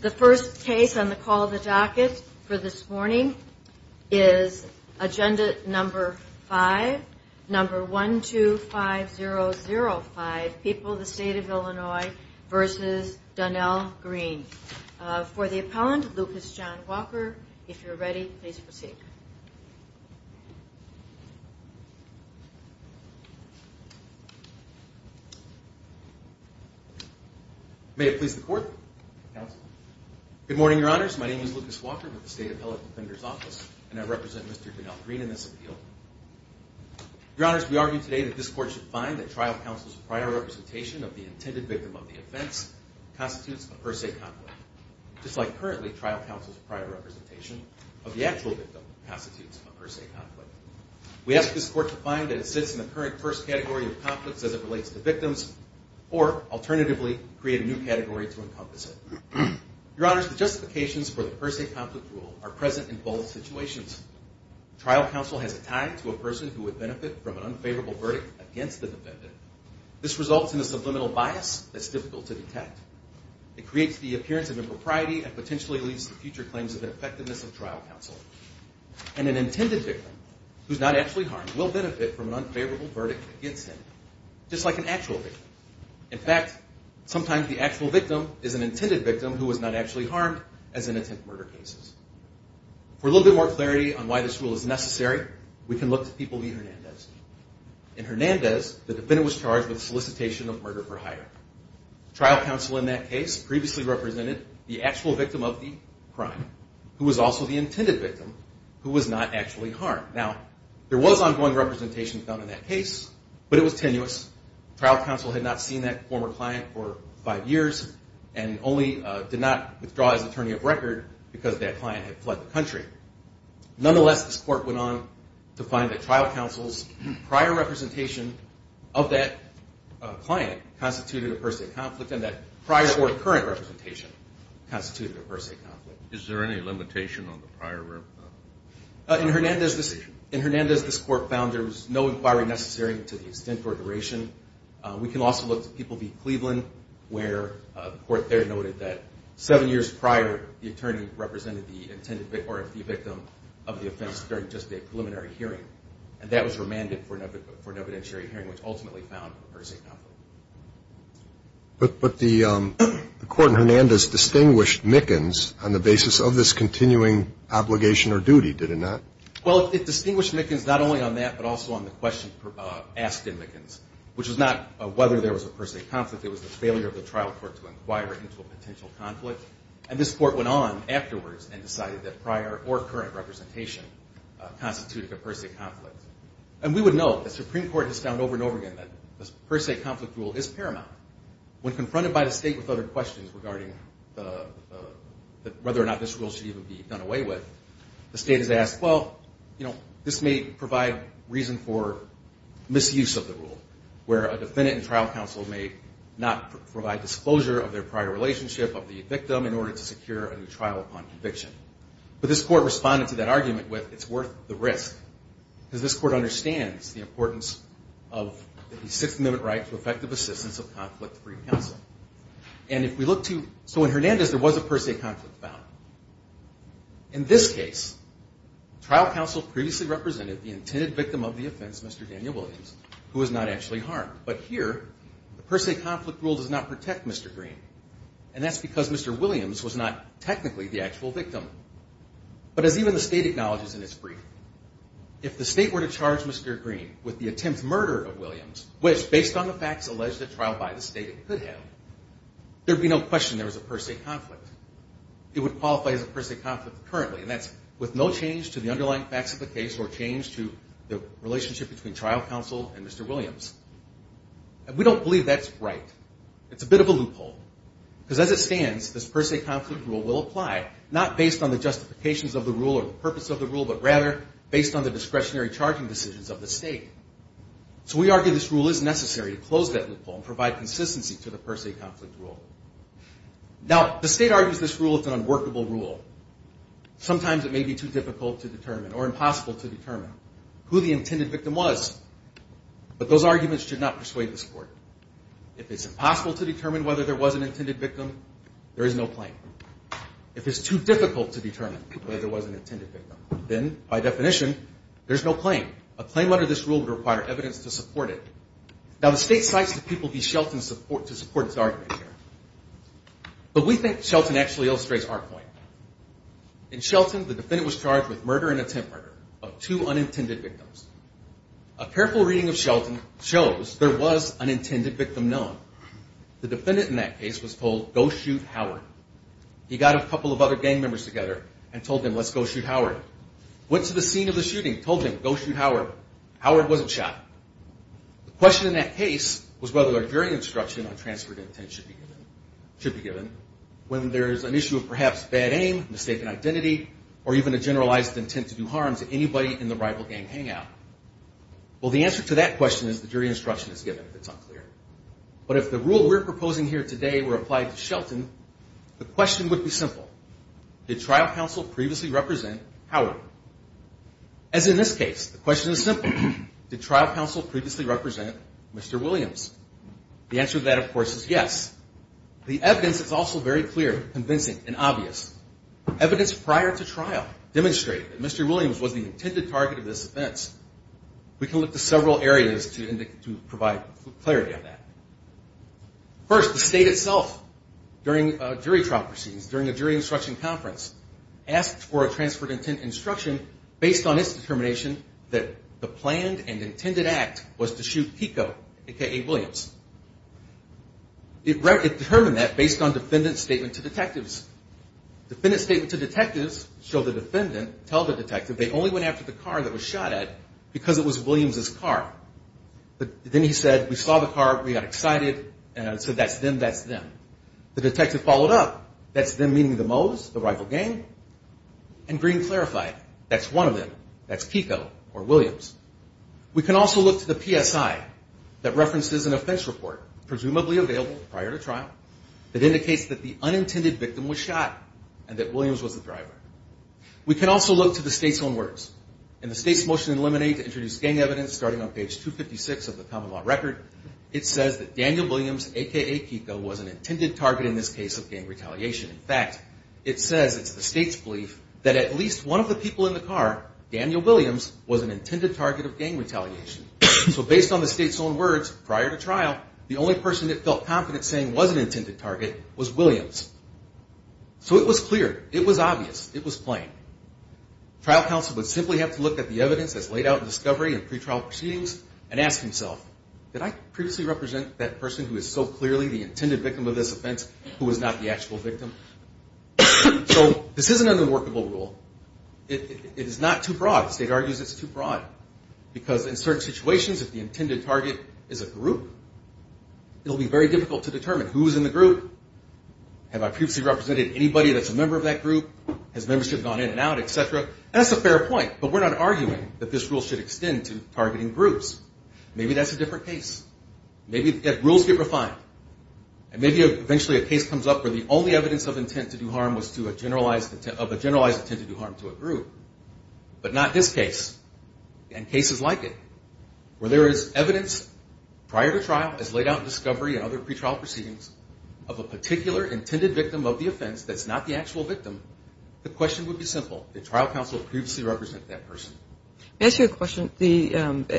The first case on the call of the docket for this morning is agenda number 5, number 125005, People of the State of Illinois v. Donnell Green. For the appellant, Lucas John Walker. If you're ready, please proceed. May it please the Court. Good morning, Your Honors. My name is Lucas Walker with the State Appellate Defender's Office, and I represent Mr. Donnell Green in this appeal. Your Honors, we argue today that this Court should find that trial counsel's prior representation of the intended victim of the offense constitutes a per se conflict. Just like currently, trial counsel's prior representation of the actual victim constitutes a per se conflict. We ask this Court to find that it sits in the current first category of conflicts as it relates to victims or, alternatively, create a new category to encompass it. Your Honors, the justifications for the per se conflict rule are present in both situations. Trial counsel has a tie to a person who would benefit from an unfavorable verdict against the defendant. This results in a subliminal bias that's difficult to detect. It creates the appearance of impropriety and potentially leads to future claims of effectiveness of trial counsel. And an intended victim who's not actually harmed will benefit from an unfavorable verdict against him, just like an actual victim. In fact, sometimes the actual victim is an intended victim who was not actually harmed as in intent murder cases. For a little bit more clarity on why this rule is necessary, we can look to People v. Hernandez. In Hernandez, the defendant was charged with solicitation of murder for hire. Trial counsel in that case previously represented the actual victim of the crime who was also the intended victim who was not actually harmed. Now, there was ongoing representation found in that case, but it was tenuous. Trial counsel had not seen that former client for five years and only did not withdraw his attorney of record because that client had fled the country. Nonetheless, this court went on to find that trial counsel's prior representation of that client constituted a per se conflict and that prior or current representation constituted a per se conflict. Is there any limitation on the prior representation? In Hernandez, this court found there was no inquiry necessary to the extent or duration. We can also look to People v. Cleveland, where the court there noted that seven years prior, the attorney represented the intended or the victim of the offense during just a preliminary hearing, and that was remanded for an evidentiary hearing, which ultimately found a per se conflict. But the court in Hernandez distinguished Mickens on the basis of this continuing obligation or duty, did it not? Well, it distinguished Mickens not only on that but also on the question asked in Mickens, which was not whether there was a per se conflict. It was the failure of the trial court to inquire into a potential conflict. And this court went on afterwards and decided that prior or current representation constituted a per se conflict. And we would note the Supreme Court has found over and over again that this per se conflict rule is paramount. When confronted by the state with other questions regarding whether or not this rule should even be done away with, the state has asked, well, you know, this may provide reason for misuse of the rule, where a defendant in trial counsel may not provide disclosure of their prior relationship of the victim in order to secure a new trial upon conviction. But this court responded to that argument with, it's worth the risk, because this court understands the importance of the Sixth Amendment right to effective assistance of conflict-free counsel. And if we look to, so in Hernandez there was a per se conflict found. In this case, trial counsel previously represented the intended victim of the offense, Mr. Daniel Williams, who was not actually harmed. But here, the per se conflict rule does not protect Mr. Green. And that's because Mr. Williams was not technically the actual victim. But as even the state acknowledges in its brief, if the state were to charge Mr. Green with the attempt murder of Williams, which, based on the facts alleged at trial by the state, it could have, there would be no question there was a per se conflict. It would qualify as a per se conflict currently, and that's with no change to the underlying facts of the case or change to the relationship between trial counsel and Mr. Williams. And we don't believe that's right. It's a bit of a loophole, because as it stands, this per se conflict rule will apply, not based on the justifications of the rule or the purpose of the rule, but rather based on the discretionary charging decisions of the state. So we argue this rule is necessary to close that loophole and provide consistency to the per se conflict rule. Now, the state argues this rule is an unworkable rule. Sometimes it may be too difficult to determine or impossible to determine who the intended victim was. But those arguments should not persuade this Court. If it's impossible to determine whether there was an intended victim, there is no claim. If it's too difficult to determine whether there was an intended victim, then, by definition, there's no claim. A claim under this rule would require evidence to support it. Now, the state cites the people v. Shelton to support its argument here. But we think Shelton actually illustrates our point. In Shelton, the defendant was charged with murder and attempt murder of two unintended victims. A careful reading of Shelton shows there was an intended victim known. The defendant in that case was told, go shoot Howard. He got a couple of other gang members together and told them, let's go shoot Howard. Went to the scene of the shooting, told them, go shoot Howard. Howard wasn't shot. The question in that case was whether a jury instruction on transferred intent should be given when there's an issue of perhaps bad aim, mistaken identity, or even a generalized intent to do harm to anybody in the rival gang hangout. Well, the answer to that question is the jury instruction is given if it's unclear. But if the rule we're proposing here today were applied to Shelton, the question would be simple. Did trial counsel previously represent Howard? As in this case, the question is simple. Did trial counsel previously represent Mr. Williams? The answer to that, of course, is yes. The evidence is also very clear, convincing, and obvious. Evidence prior to trial demonstrated that Mr. Williams was the intended target of this offense. We can look to several areas to provide clarity on that. First, the state itself during jury trial proceedings, during a jury instruction conference, asked for a transferred intent instruction based on its determination that the planned and intended act was to shoot Kiko, a.k.a. Williams. It determined that based on defendant's statement to detectives. Defendant's statement to detectives showed the defendant told the detective they only went after the car that was shot at because it was Williams' car. But then he said, we saw the car, we got excited, and so that's them, that's them. The detective followed up, that's them meaning the Moes, the rival gang, and Green clarified, that's one of them, that's Kiko or Williams. We can also look to the PSI that references an offense report, presumably available prior to trial, that indicates that the unintended victim was shot and that Williams was the driver. We can also look to the state's own words. In the state's motion in limine to introduce gang evidence starting on page 256 of the common law record, it says that Daniel Williams, a.k.a. Kiko, was an intended target in this case of gang retaliation. In fact, it says, it's the state's belief, that at least one of the people in the car, Daniel Williams, was an intended target of gang retaliation. So based on the state's own words, prior to trial, the only person it felt confident saying was an intended target was Williams. So it was clear, it was obvious, it was plain. Trial counsel would simply have to look at the evidence that's laid out in discovery and pretrial proceedings and ask himself, did I previously represent that person who is so clearly the intended victim of this offense who was not the actual victim? So this is an unworkable rule. It is not too broad. The state argues it's too broad. Because in certain situations, if the intended target is a group, it will be very difficult to determine who is in the group. Have I previously represented anybody that's a member of that group? Has membership gone in and out, et cetera? And that's a fair point. But we're not arguing that this rule should extend to targeting groups. Maybe that's a different case. Maybe rules get refined. And maybe eventually a case comes up where the only evidence of intent to do harm was of a generalized intent to do harm to a group. But not this case. And cases like it, where there is evidence prior to trial, as laid out in discovery and other pretrial proceedings, of a particular intended victim of the offense that's not the actual victim, the question would be simple. Did trial counsel previously represent that person? May I ask you a question?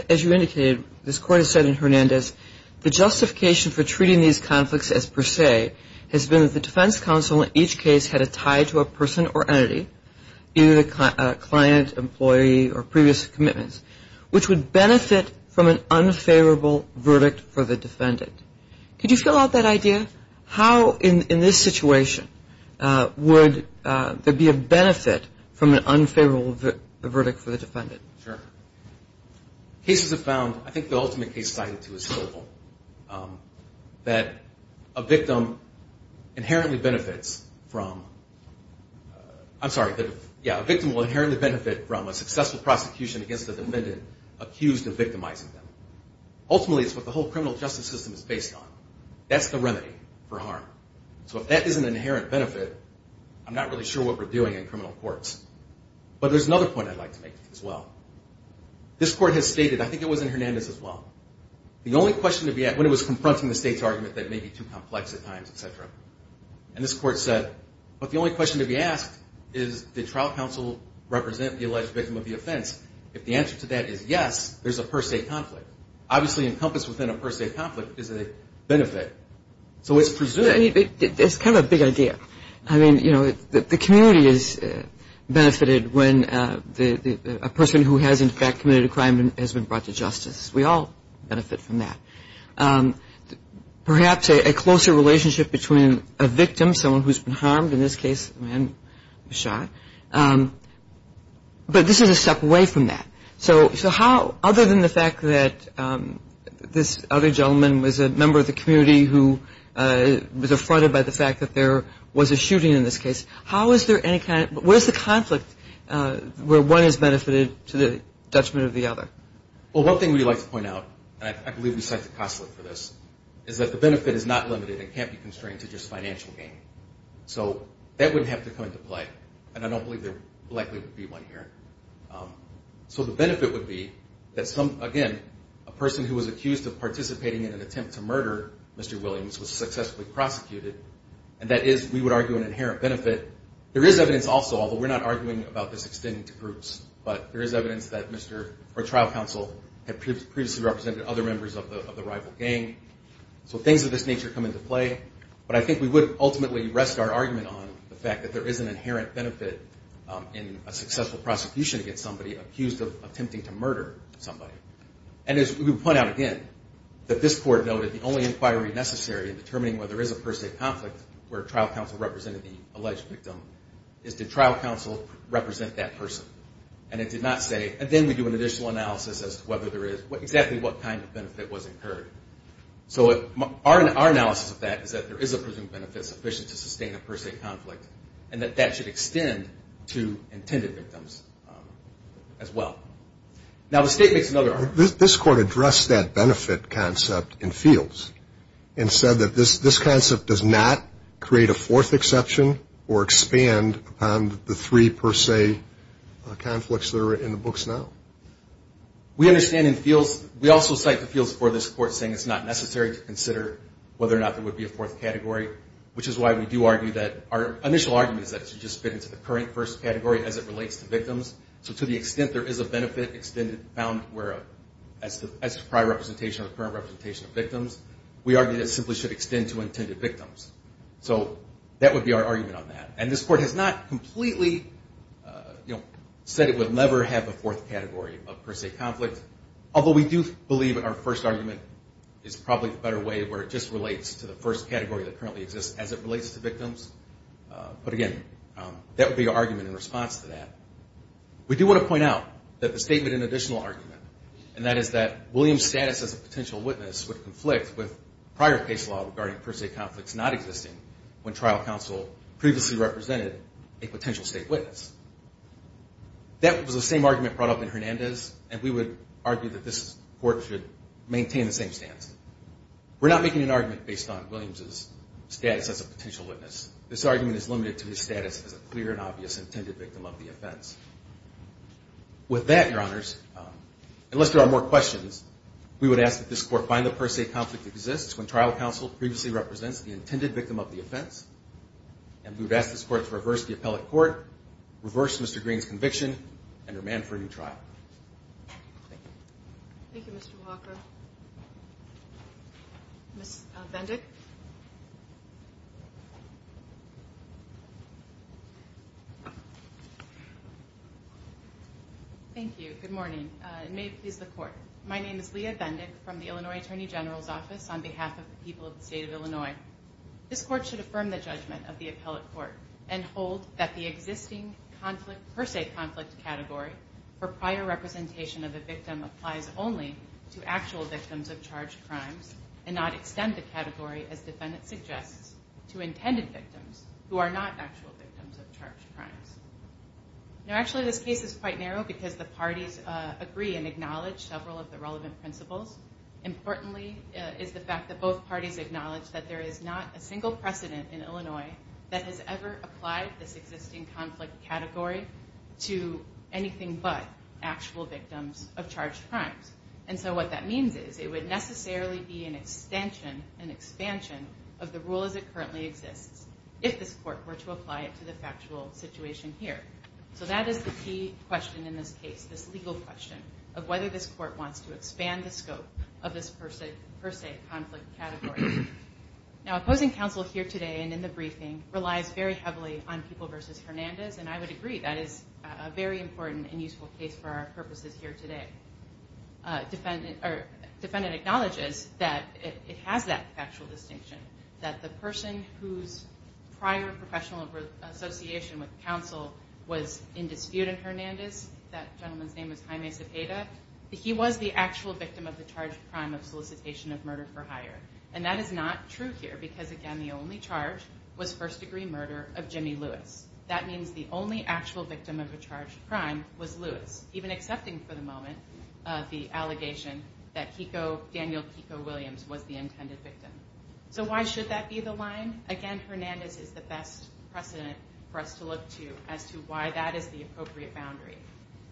As you indicated, this court has said in Hernandez, the justification for treating these conflicts as per se has been that the defense counsel in each case had a tie to a person or entity, either the client, employee, or previous commitments, which would benefit from an unfavorable verdict for the defendant. Could you fill out that idea? How, in this situation, would there be a benefit from an unfavorable verdict for the defendant? Sure. Cases have found, I think the ultimate case cited, too, is Sobel, that a victim will inherently benefit from a successful prosecution against the defendant accused of victimizing them. Ultimately, it's what the whole criminal justice system is based on. That's the remedy for harm. So if that isn't an inherent benefit, I'm not really sure what we're doing in criminal courts. But there's another point I'd like to make as well. This court has stated, I think it was in Hernandez as well, when it was confronting the state's argument that it may be too complex at times, et cetera, and this court said, but the only question to be asked is, did trial counsel represent the alleged victim of the offense? If the answer to that is yes, there's a per se conflict. Obviously, encompassed within a per se conflict is a benefit. So it's presumed. It's kind of a big idea. I mean, the community is benefited when a person who has, in fact, committed a crime has been brought to justice. We all benefit from that. Perhaps a closer relationship between a victim, someone who's been harmed, in this case a man who was shot. But this is a step away from that. So how, other than the fact that this other gentleman was a member of the community who was affronted by the fact that there was a shooting in this case, how is there any kind of, where's the conflict where one is benefited to the judgment of the other? Well, one thing we'd like to point out, and I believe we cite the consulate for this, is that the benefit is not limited. It can't be constrained to just financial gain. So that wouldn't have to come into play, and I don't believe there likely would be one here. So the benefit would be that some, again, a person who was accused of participating in an attempt to murder Mr. Williams was successfully prosecuted. And that is, we would argue, an inherent benefit. There is evidence also, although we're not arguing about this extending to groups, but there is evidence that trial counsel had previously represented other members of the rival gang. So things of this nature come into play. But I think we would ultimately rest our argument on the fact that there is an inherent benefit in a successful prosecution against somebody accused of attempting to murder somebody. And as we would point out again, that this court noted the only inquiry necessary in determining whether there is a per se conflict where trial counsel represented the alleged victim is did trial counsel represent that person. And it did not say, and then we do an additional analysis as to whether there is, exactly what kind of benefit was incurred. So our analysis of that is that there is a presumed benefit sufficient to sustain a per se conflict and that that should extend to intended victims as well. Now the state makes another argument. This court addressed that benefit concept in fields and said that this concept does not create a fourth exception or expand upon the three per se conflicts that are in the books now. We understand in fields, we also cite the fields for this court saying it's not necessary to consider whether or not there would be a fourth category, which is why we do argue that our initial argument is that it should just fit into the current first category as it relates to victims. So to the extent there is a benefit found as a prior representation or current representation of victims, we argue that it simply should extend to intended victims. So that would be our argument on that. And this court has not completely said it would never have a fourth category of per se conflict, although we do believe our first argument is probably the better way where it just relates to the first category that currently exists as it relates to victims. But again, that would be our argument in response to that. We do want to point out that the statement and additional argument, and that is that William's status as a potential witness would conflict with prior case law regarding per se conflicts not existing when trial counsel previously represented a potential state witness. That was the same argument brought up in Hernandez, and we would argue that this court should maintain the same stance. We're not making an argument based on Williams' status as a potential witness. This argument is limited to his status as a clear and obvious intended victim of the offense. With that, Your Honors, unless there are more questions, we would ask that this court find that per se conflict exists when trial counsel previously represents the intended victim of the offense, and we would ask this court to reverse the appellate court, reverse Mr. Green's conviction, and remand for a new trial. Thank you. Thank you, Mr. Walker. Ms. Bendick. Thank you. Good morning. May it please the Court. My name is Leah Bendick from the Illinois Attorney General's Office on behalf of the people of the state of Illinois. This court should affirm the judgment of the appellate court and hold that the existing per se conflict category for prior representation of a victim applies only to actual victims of charged crimes and not extend the category, as the defendant suggests, to intended victims who are not actual victims of charged crimes. Now, actually, this case is quite narrow because the parties agree and acknowledge several of the relevant principles. Importantly is the fact that both parties acknowledge that there is not a single precedent in Illinois that has ever applied this existing conflict category to anything but actual victims of charged crimes. And so what that means is it would necessarily be an extension, an expansion, of the rule as it currently exists if this court were to apply it to the factual situation here. So that is the key question in this case, this legal question, of whether this court wants to expand the scope of this per se conflict category. Now, opposing counsel here today and in the briefing relies very heavily on people versus Hernandez, and I would agree that is a very important and useful case for our purposes here today. Defendant acknowledges that it has that factual distinction, that the person whose prior professional association with counsel was in dispute in Hernandez, that gentleman's name is Jaime Cepeda, he was the actual victim of the charged crime of solicitation of murder for hire. And that is not true here because, again, the only charge was first-degree murder of Jimmy Lewis. That means the only actual victim of a charged crime was Lewis, even accepting for the moment the allegation that Daniel Kiko Williams was the intended victim. So why should that be the line? Again, Hernandez is the best precedent for us to look to as to why that is the appropriate boundary.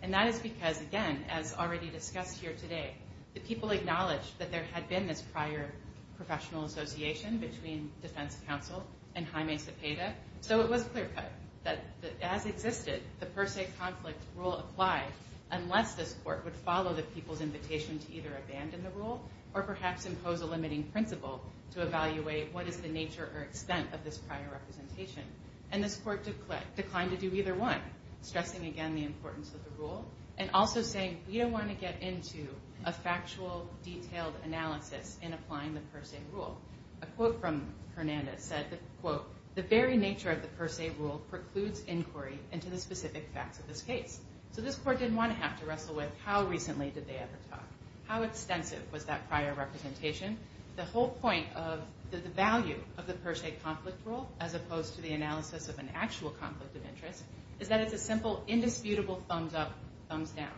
And that is because, again, as already discussed here today, the people acknowledged that there had been this prior professional association between defense counsel and Jaime Cepeda, so it was clear-cut that, as existed, the per se conflict rule applied unless this court would follow the people's invitation to either abandon the rule or perhaps impose a limiting principle to evaluate what is the nature or extent of this prior representation. And this court declined to do either one, stressing again the importance of the rule and also saying we don't want to get into a factual, detailed analysis in applying the per se rule. A quote from Hernandez said, quote, the very nature of the per se rule precludes inquiry into the specific facts of this case. So this court didn't want to have to wrestle with how recently did they ever talk, how extensive was that prior representation. The whole point of the value of the per se conflict rule, as opposed to the analysis of an actual conflict of interest, is that it's a simple, indisputable thumbs up, thumbs down.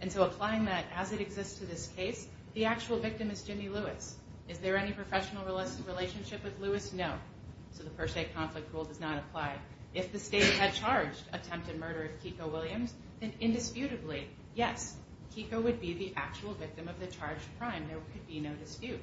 And so applying that as it exists to this case, the actual victim is Jimmy Lewis. Is there any professional relationship with Lewis? No. So the per se conflict rule does not apply. If the state had charged attempted murder of Kiko Williams, then indisputably, yes, Kiko would be the actual victim of the charged crime. There could be no dispute.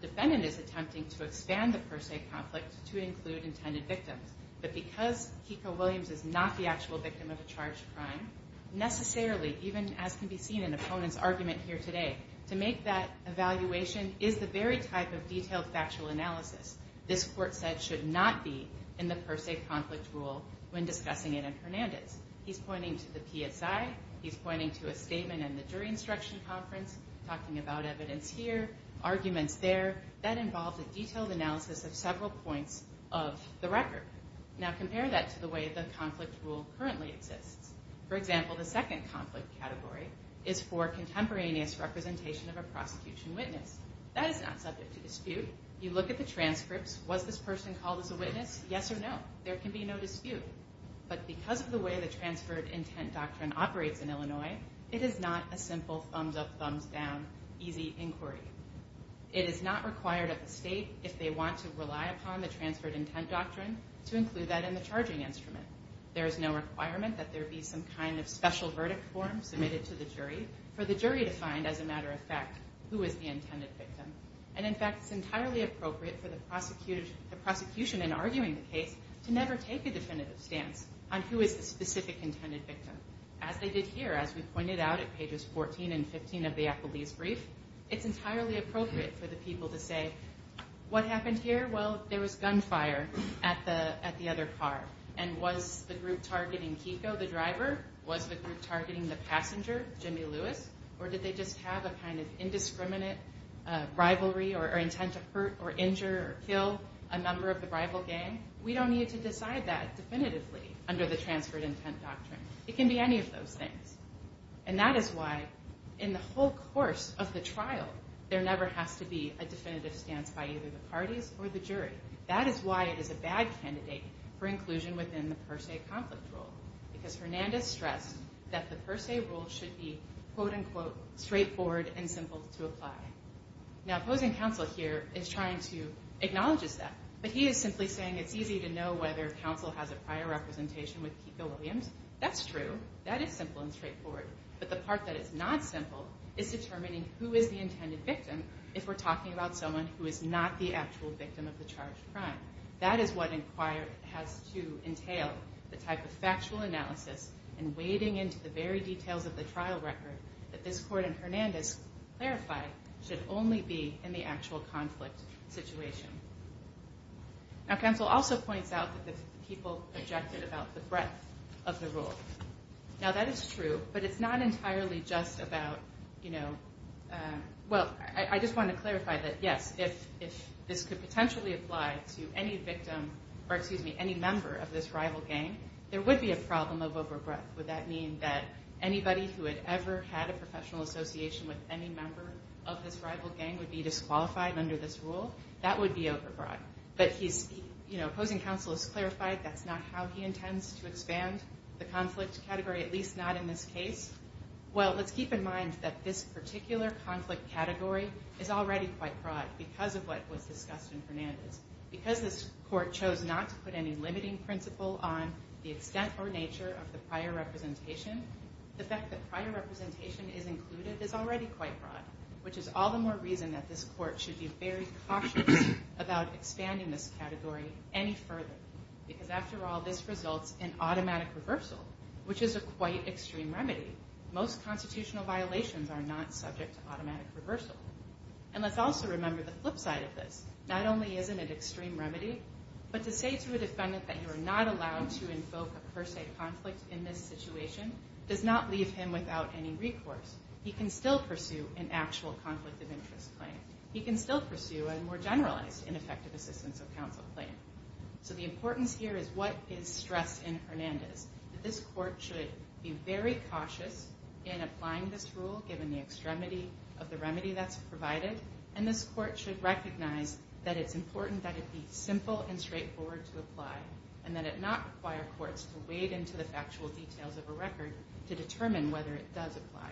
The defendant is attempting to expand the per se conflict to include intended victims. But because Kiko Williams is not the actual victim of a charged crime, necessarily, even as can be seen in the opponent's argument here today, to make that evaluation is the very type of detailed factual analysis this court said should not be in the per se conflict rule when discussing it in Hernandez. He's pointing to the PSI. He's pointing to a statement in the jury instruction conference, talking about evidence here, arguments there. That involves a detailed analysis of several points of the record. Now compare that to the way the conflict rule currently exists. For example, the second conflict category is for contemporaneous representation of a prosecution witness. That is not subject to dispute. You look at the transcripts. Was this person called as a witness? Yes or no. There can be no dispute. But because of the way the transferred intent doctrine operates in Illinois, it is not a simple thumbs-up, thumbs-down, easy inquiry. It is not required of the state, if they want to rely upon the transferred intent doctrine, to include that in the charging instrument. There is no requirement that there be some kind of special verdict form submitted to the jury for the jury to find, as a matter of fact, who is the intended victim. And, in fact, it's entirely appropriate for the prosecution in arguing the case to never take a definitive stance on who is the specific intended victim. As they did here, as we pointed out at pages 14 and 15 of the Applebee's brief, it's entirely appropriate for the people to say, what happened here? Well, there was gunfire at the other car. And was the group targeting Kiko, the driver? Was the group targeting the passenger, Jimmy Lewis? Or did they just have a kind of indiscriminate rivalry or intent to hurt or injure or kill a member of the rival gang? We don't need to decide that definitively under the transferred intent doctrine. It can be any of those things. And that is why, in the whole course of the trial, there never has to be a definitive stance by either the parties or the jury. That is why it is a bad candidate for inclusion within the per se conflict rule, because Hernandez stressed that the per se rule should be, quote-unquote, straightforward and simple to apply. Now, opposing counsel here is trying to acknowledge that. But he is simply saying it's easy to know whether counsel has a prior representation with Kiko Williams. That's true. That is simple and straightforward. But the part that is not simple is determining who is the intended victim if we're talking about someone who is not the actual victim of the charged crime. That is what has to entail the type of factual analysis and wading into the very details of the trial record that this court and Hernandez clarify should only be in the actual conflict situation. Now, counsel also points out that the people objected about the breadth of the rule. Now, that is true, but it's not entirely just about, you know, well, I just want to clarify that, yes, if this could potentially apply to any victim or, excuse me, any member of this rival gang, there would be a problem of over-breadth. Would that mean that anybody who had ever had a professional association with any member of this rival gang would be disqualified under this rule? That would be over-breadth. But he's, you know, opposing counsel has clarified that's not how he intends to expand the conflict category, at least not in this case. Well, let's keep in mind that this particular conflict category is already quite broad because of what was discussed in Hernandez. Because this court chose not to put any limiting principle on the extent or nature of the prior representation, the fact that prior representation is included is already quite broad, which is all the more reason that this court should be very cautious about expanding this category any further. Because after all, this results in automatic reversal, which is a quite extreme remedy. Most constitutional violations are not subject to automatic reversal. And let's also remember the flip side of this. Not only is it an extreme remedy, but to say to a defendant that you are not allowed to invoke a per se conflict in this situation does not leave him without any recourse. He can still pursue an actual conflict of interest claim. He can still pursue a more generalized ineffective assistance of counsel claim. So the importance here is what is stressed in Hernandez. This court should be very cautious in applying this rule given the extremity of the remedy that's provided. And this court should recognize that it's important that it be simple and straightforward to apply, and that it not require courts to wade into the factual details of a record to determine whether it does apply.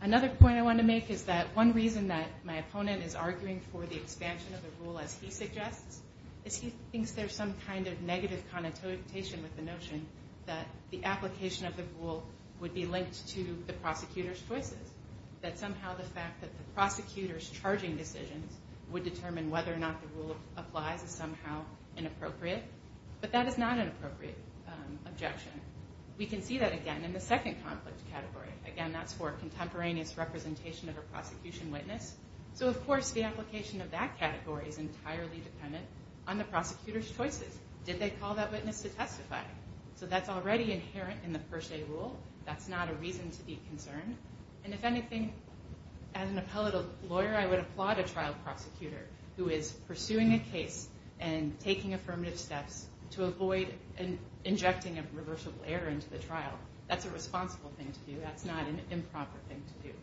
Another point I want to make is that one reason that my opponent is arguing for the expansion of the rule as he suggests is he thinks there's some kind of negative connotation with the notion that the application of the rule would be linked to the prosecutor's choices, that somehow the fact that the prosecutor's charging decisions would determine whether or not the rule applies is somehow inappropriate. But that is not an appropriate objection. We can see that again in the second conflict category. Again, that's for contemporaneous representation of a prosecution witness. So of course the application of that category is entirely dependent on the prosecutor's choices. Did they call that witness to testify? So that's already inherent in the per se rule. That's not a reason to be concerned. And if anything, as an appellate lawyer, I would applaud a trial prosecutor who is pursuing a case and taking affirmative steps to avoid injecting a reversible error into the trial. That's a responsible thing to do. That's not an improper thing to do.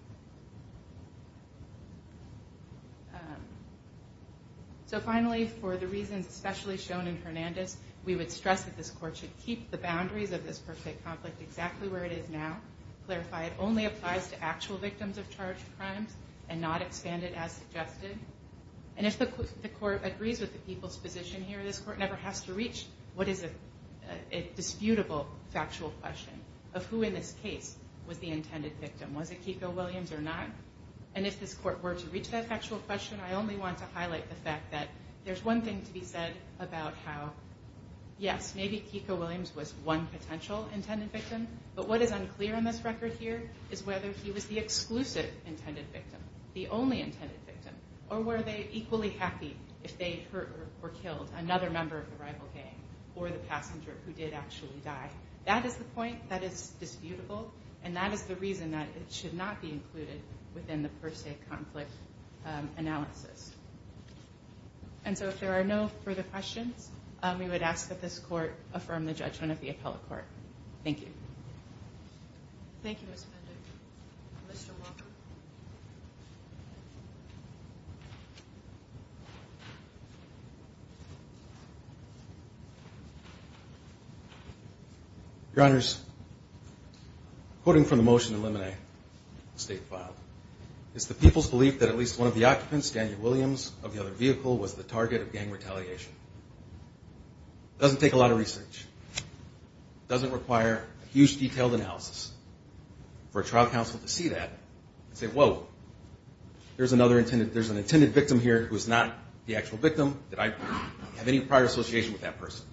So finally, for the reasons especially shown in Hernandez, we would stress that this court should keep the boundaries of this per se conflict exactly where it is now. Clarify it only applies to actual victims of charged crimes and not expand it as suggested. And if the court agrees with the people's position here, this court never has to reach what is a disputable factual question of who in this case was the intended victim. Was it Keiko Williams or not? And if this court were to reach that factual question, I only want to highlight the fact that there's one thing to be said about how, yes, maybe Keiko Williams was one potential intended victim, but what is unclear in this record here is whether he was the exclusive intended victim, the only intended victim, or were they equally happy if they hurt or killed another member of the rival gang or the passenger who did actually die. That is the point that is disputable, and that is the reason that it should not be included within the per se conflict analysis. And so if there are no further questions, we would ask that this court affirm the judgment of the appellate court. Thank you. Thank you, Ms. Pender. Mr. Walker. Your Honors, quoting from the motion to eliminate the state file, it's the people's belief that at least one of the occupants, Daniel Williams, of the other vehicle was the target of gang retaliation. It doesn't take a lot of research. It doesn't require a huge detailed analysis. For a trial counsel to see that and say, whoa, there's an intended victim here who is not the actual victim, did I have any prior association with that person.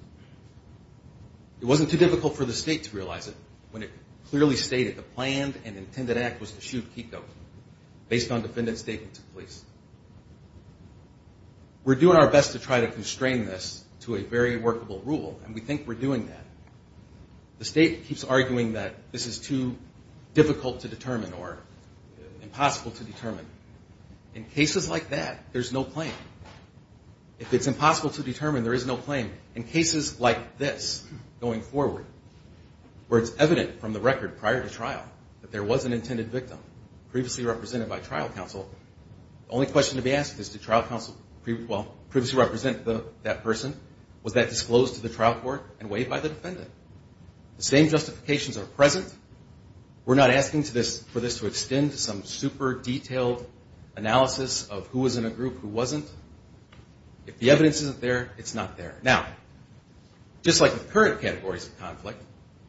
It wasn't too difficult for the state to realize it when it clearly stated the planned and intended act was to shoot Kiko based on defendant's statement to police. We're doing our best to try to constrain this to a very workable rule, and we think we're doing that. The state keeps arguing that this is too difficult to determine or impossible to determine. In cases like that, there's no claim. If it's impossible to determine, there is no claim. In cases like this going forward, where it's evident from the record prior to trial that there was an intended victim previously represented by trial counsel, the only question to be asked is, did trial counsel previously represent that person? Was that disclosed to the trial court and waived by the defendant? The same justifications are present. We're not asking for this to extend to some super detailed analysis of who was in a group, who wasn't. If the evidence isn't there, it's not there. Now, just like with current categories of conflict,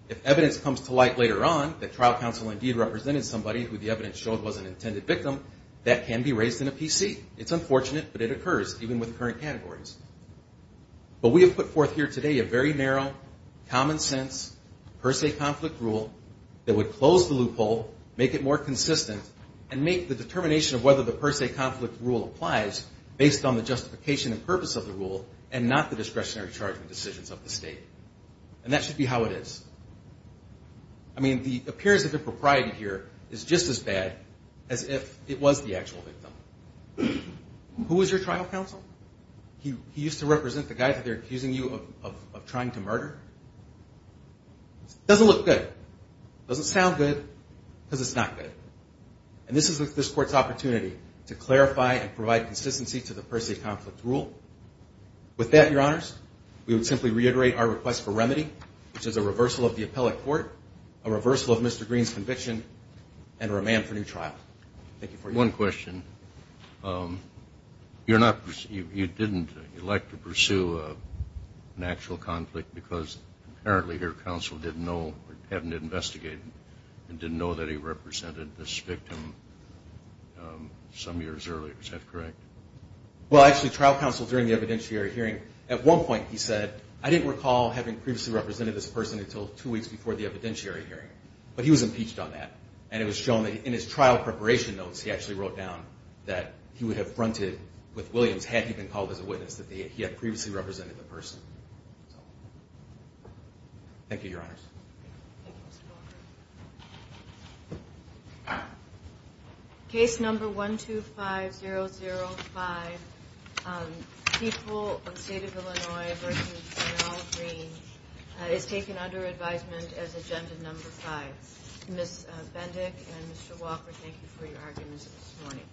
if evidence comes to light later on that trial counsel indeed represented somebody who the evidence showed was an intended victim, that can be raised in a PC. It's unfortunate, but it occurs, even with current categories. But we have put forth here today a very narrow, common sense, per se conflict rule that would close the loophole, make it more consistent, and make the determination of whether the per se conflict rule applies based on the justification and purpose of the rule and not the discretionary charges decisions of the state. And that should be how it is. I mean, the appearance of impropriety here is just as bad as if it was the actual victim. Who was your trial counsel? He used to represent the guy that they're accusing you of trying to murder? Doesn't look good. Doesn't sound good, because it's not good. And this is this Court's opportunity to clarify and provide consistency to the per se conflict rule. With that, Your Honors, we would simply reiterate our request for remedy, which is a reversal of the appellate court, a reversal of Mr. Green's conviction, and a remand for new trial. Thank you for your time. One question. You didn't elect to pursue an actual conflict because apparently your counsel didn't know or hadn't investigated and didn't know that he represented this victim some years earlier. Is that correct? Well, actually, trial counsel during the evidentiary hearing, at one point he said, I didn't recall having previously represented this person until two weeks before the evidentiary hearing. But he was impeached on that. And it was shown that in his trial preparation notes, he actually wrote down that he would have fronted with Williams had he been called as a witness that he had previously represented the person. Thank you, Your Honors. Thank you, Mr. Walker. Case number 125005, People of the State of Illinois v. General Green is taken under advisement as agenda number 5. Ms. Bendick and Mr. Walker, thank you for your arguments this morning.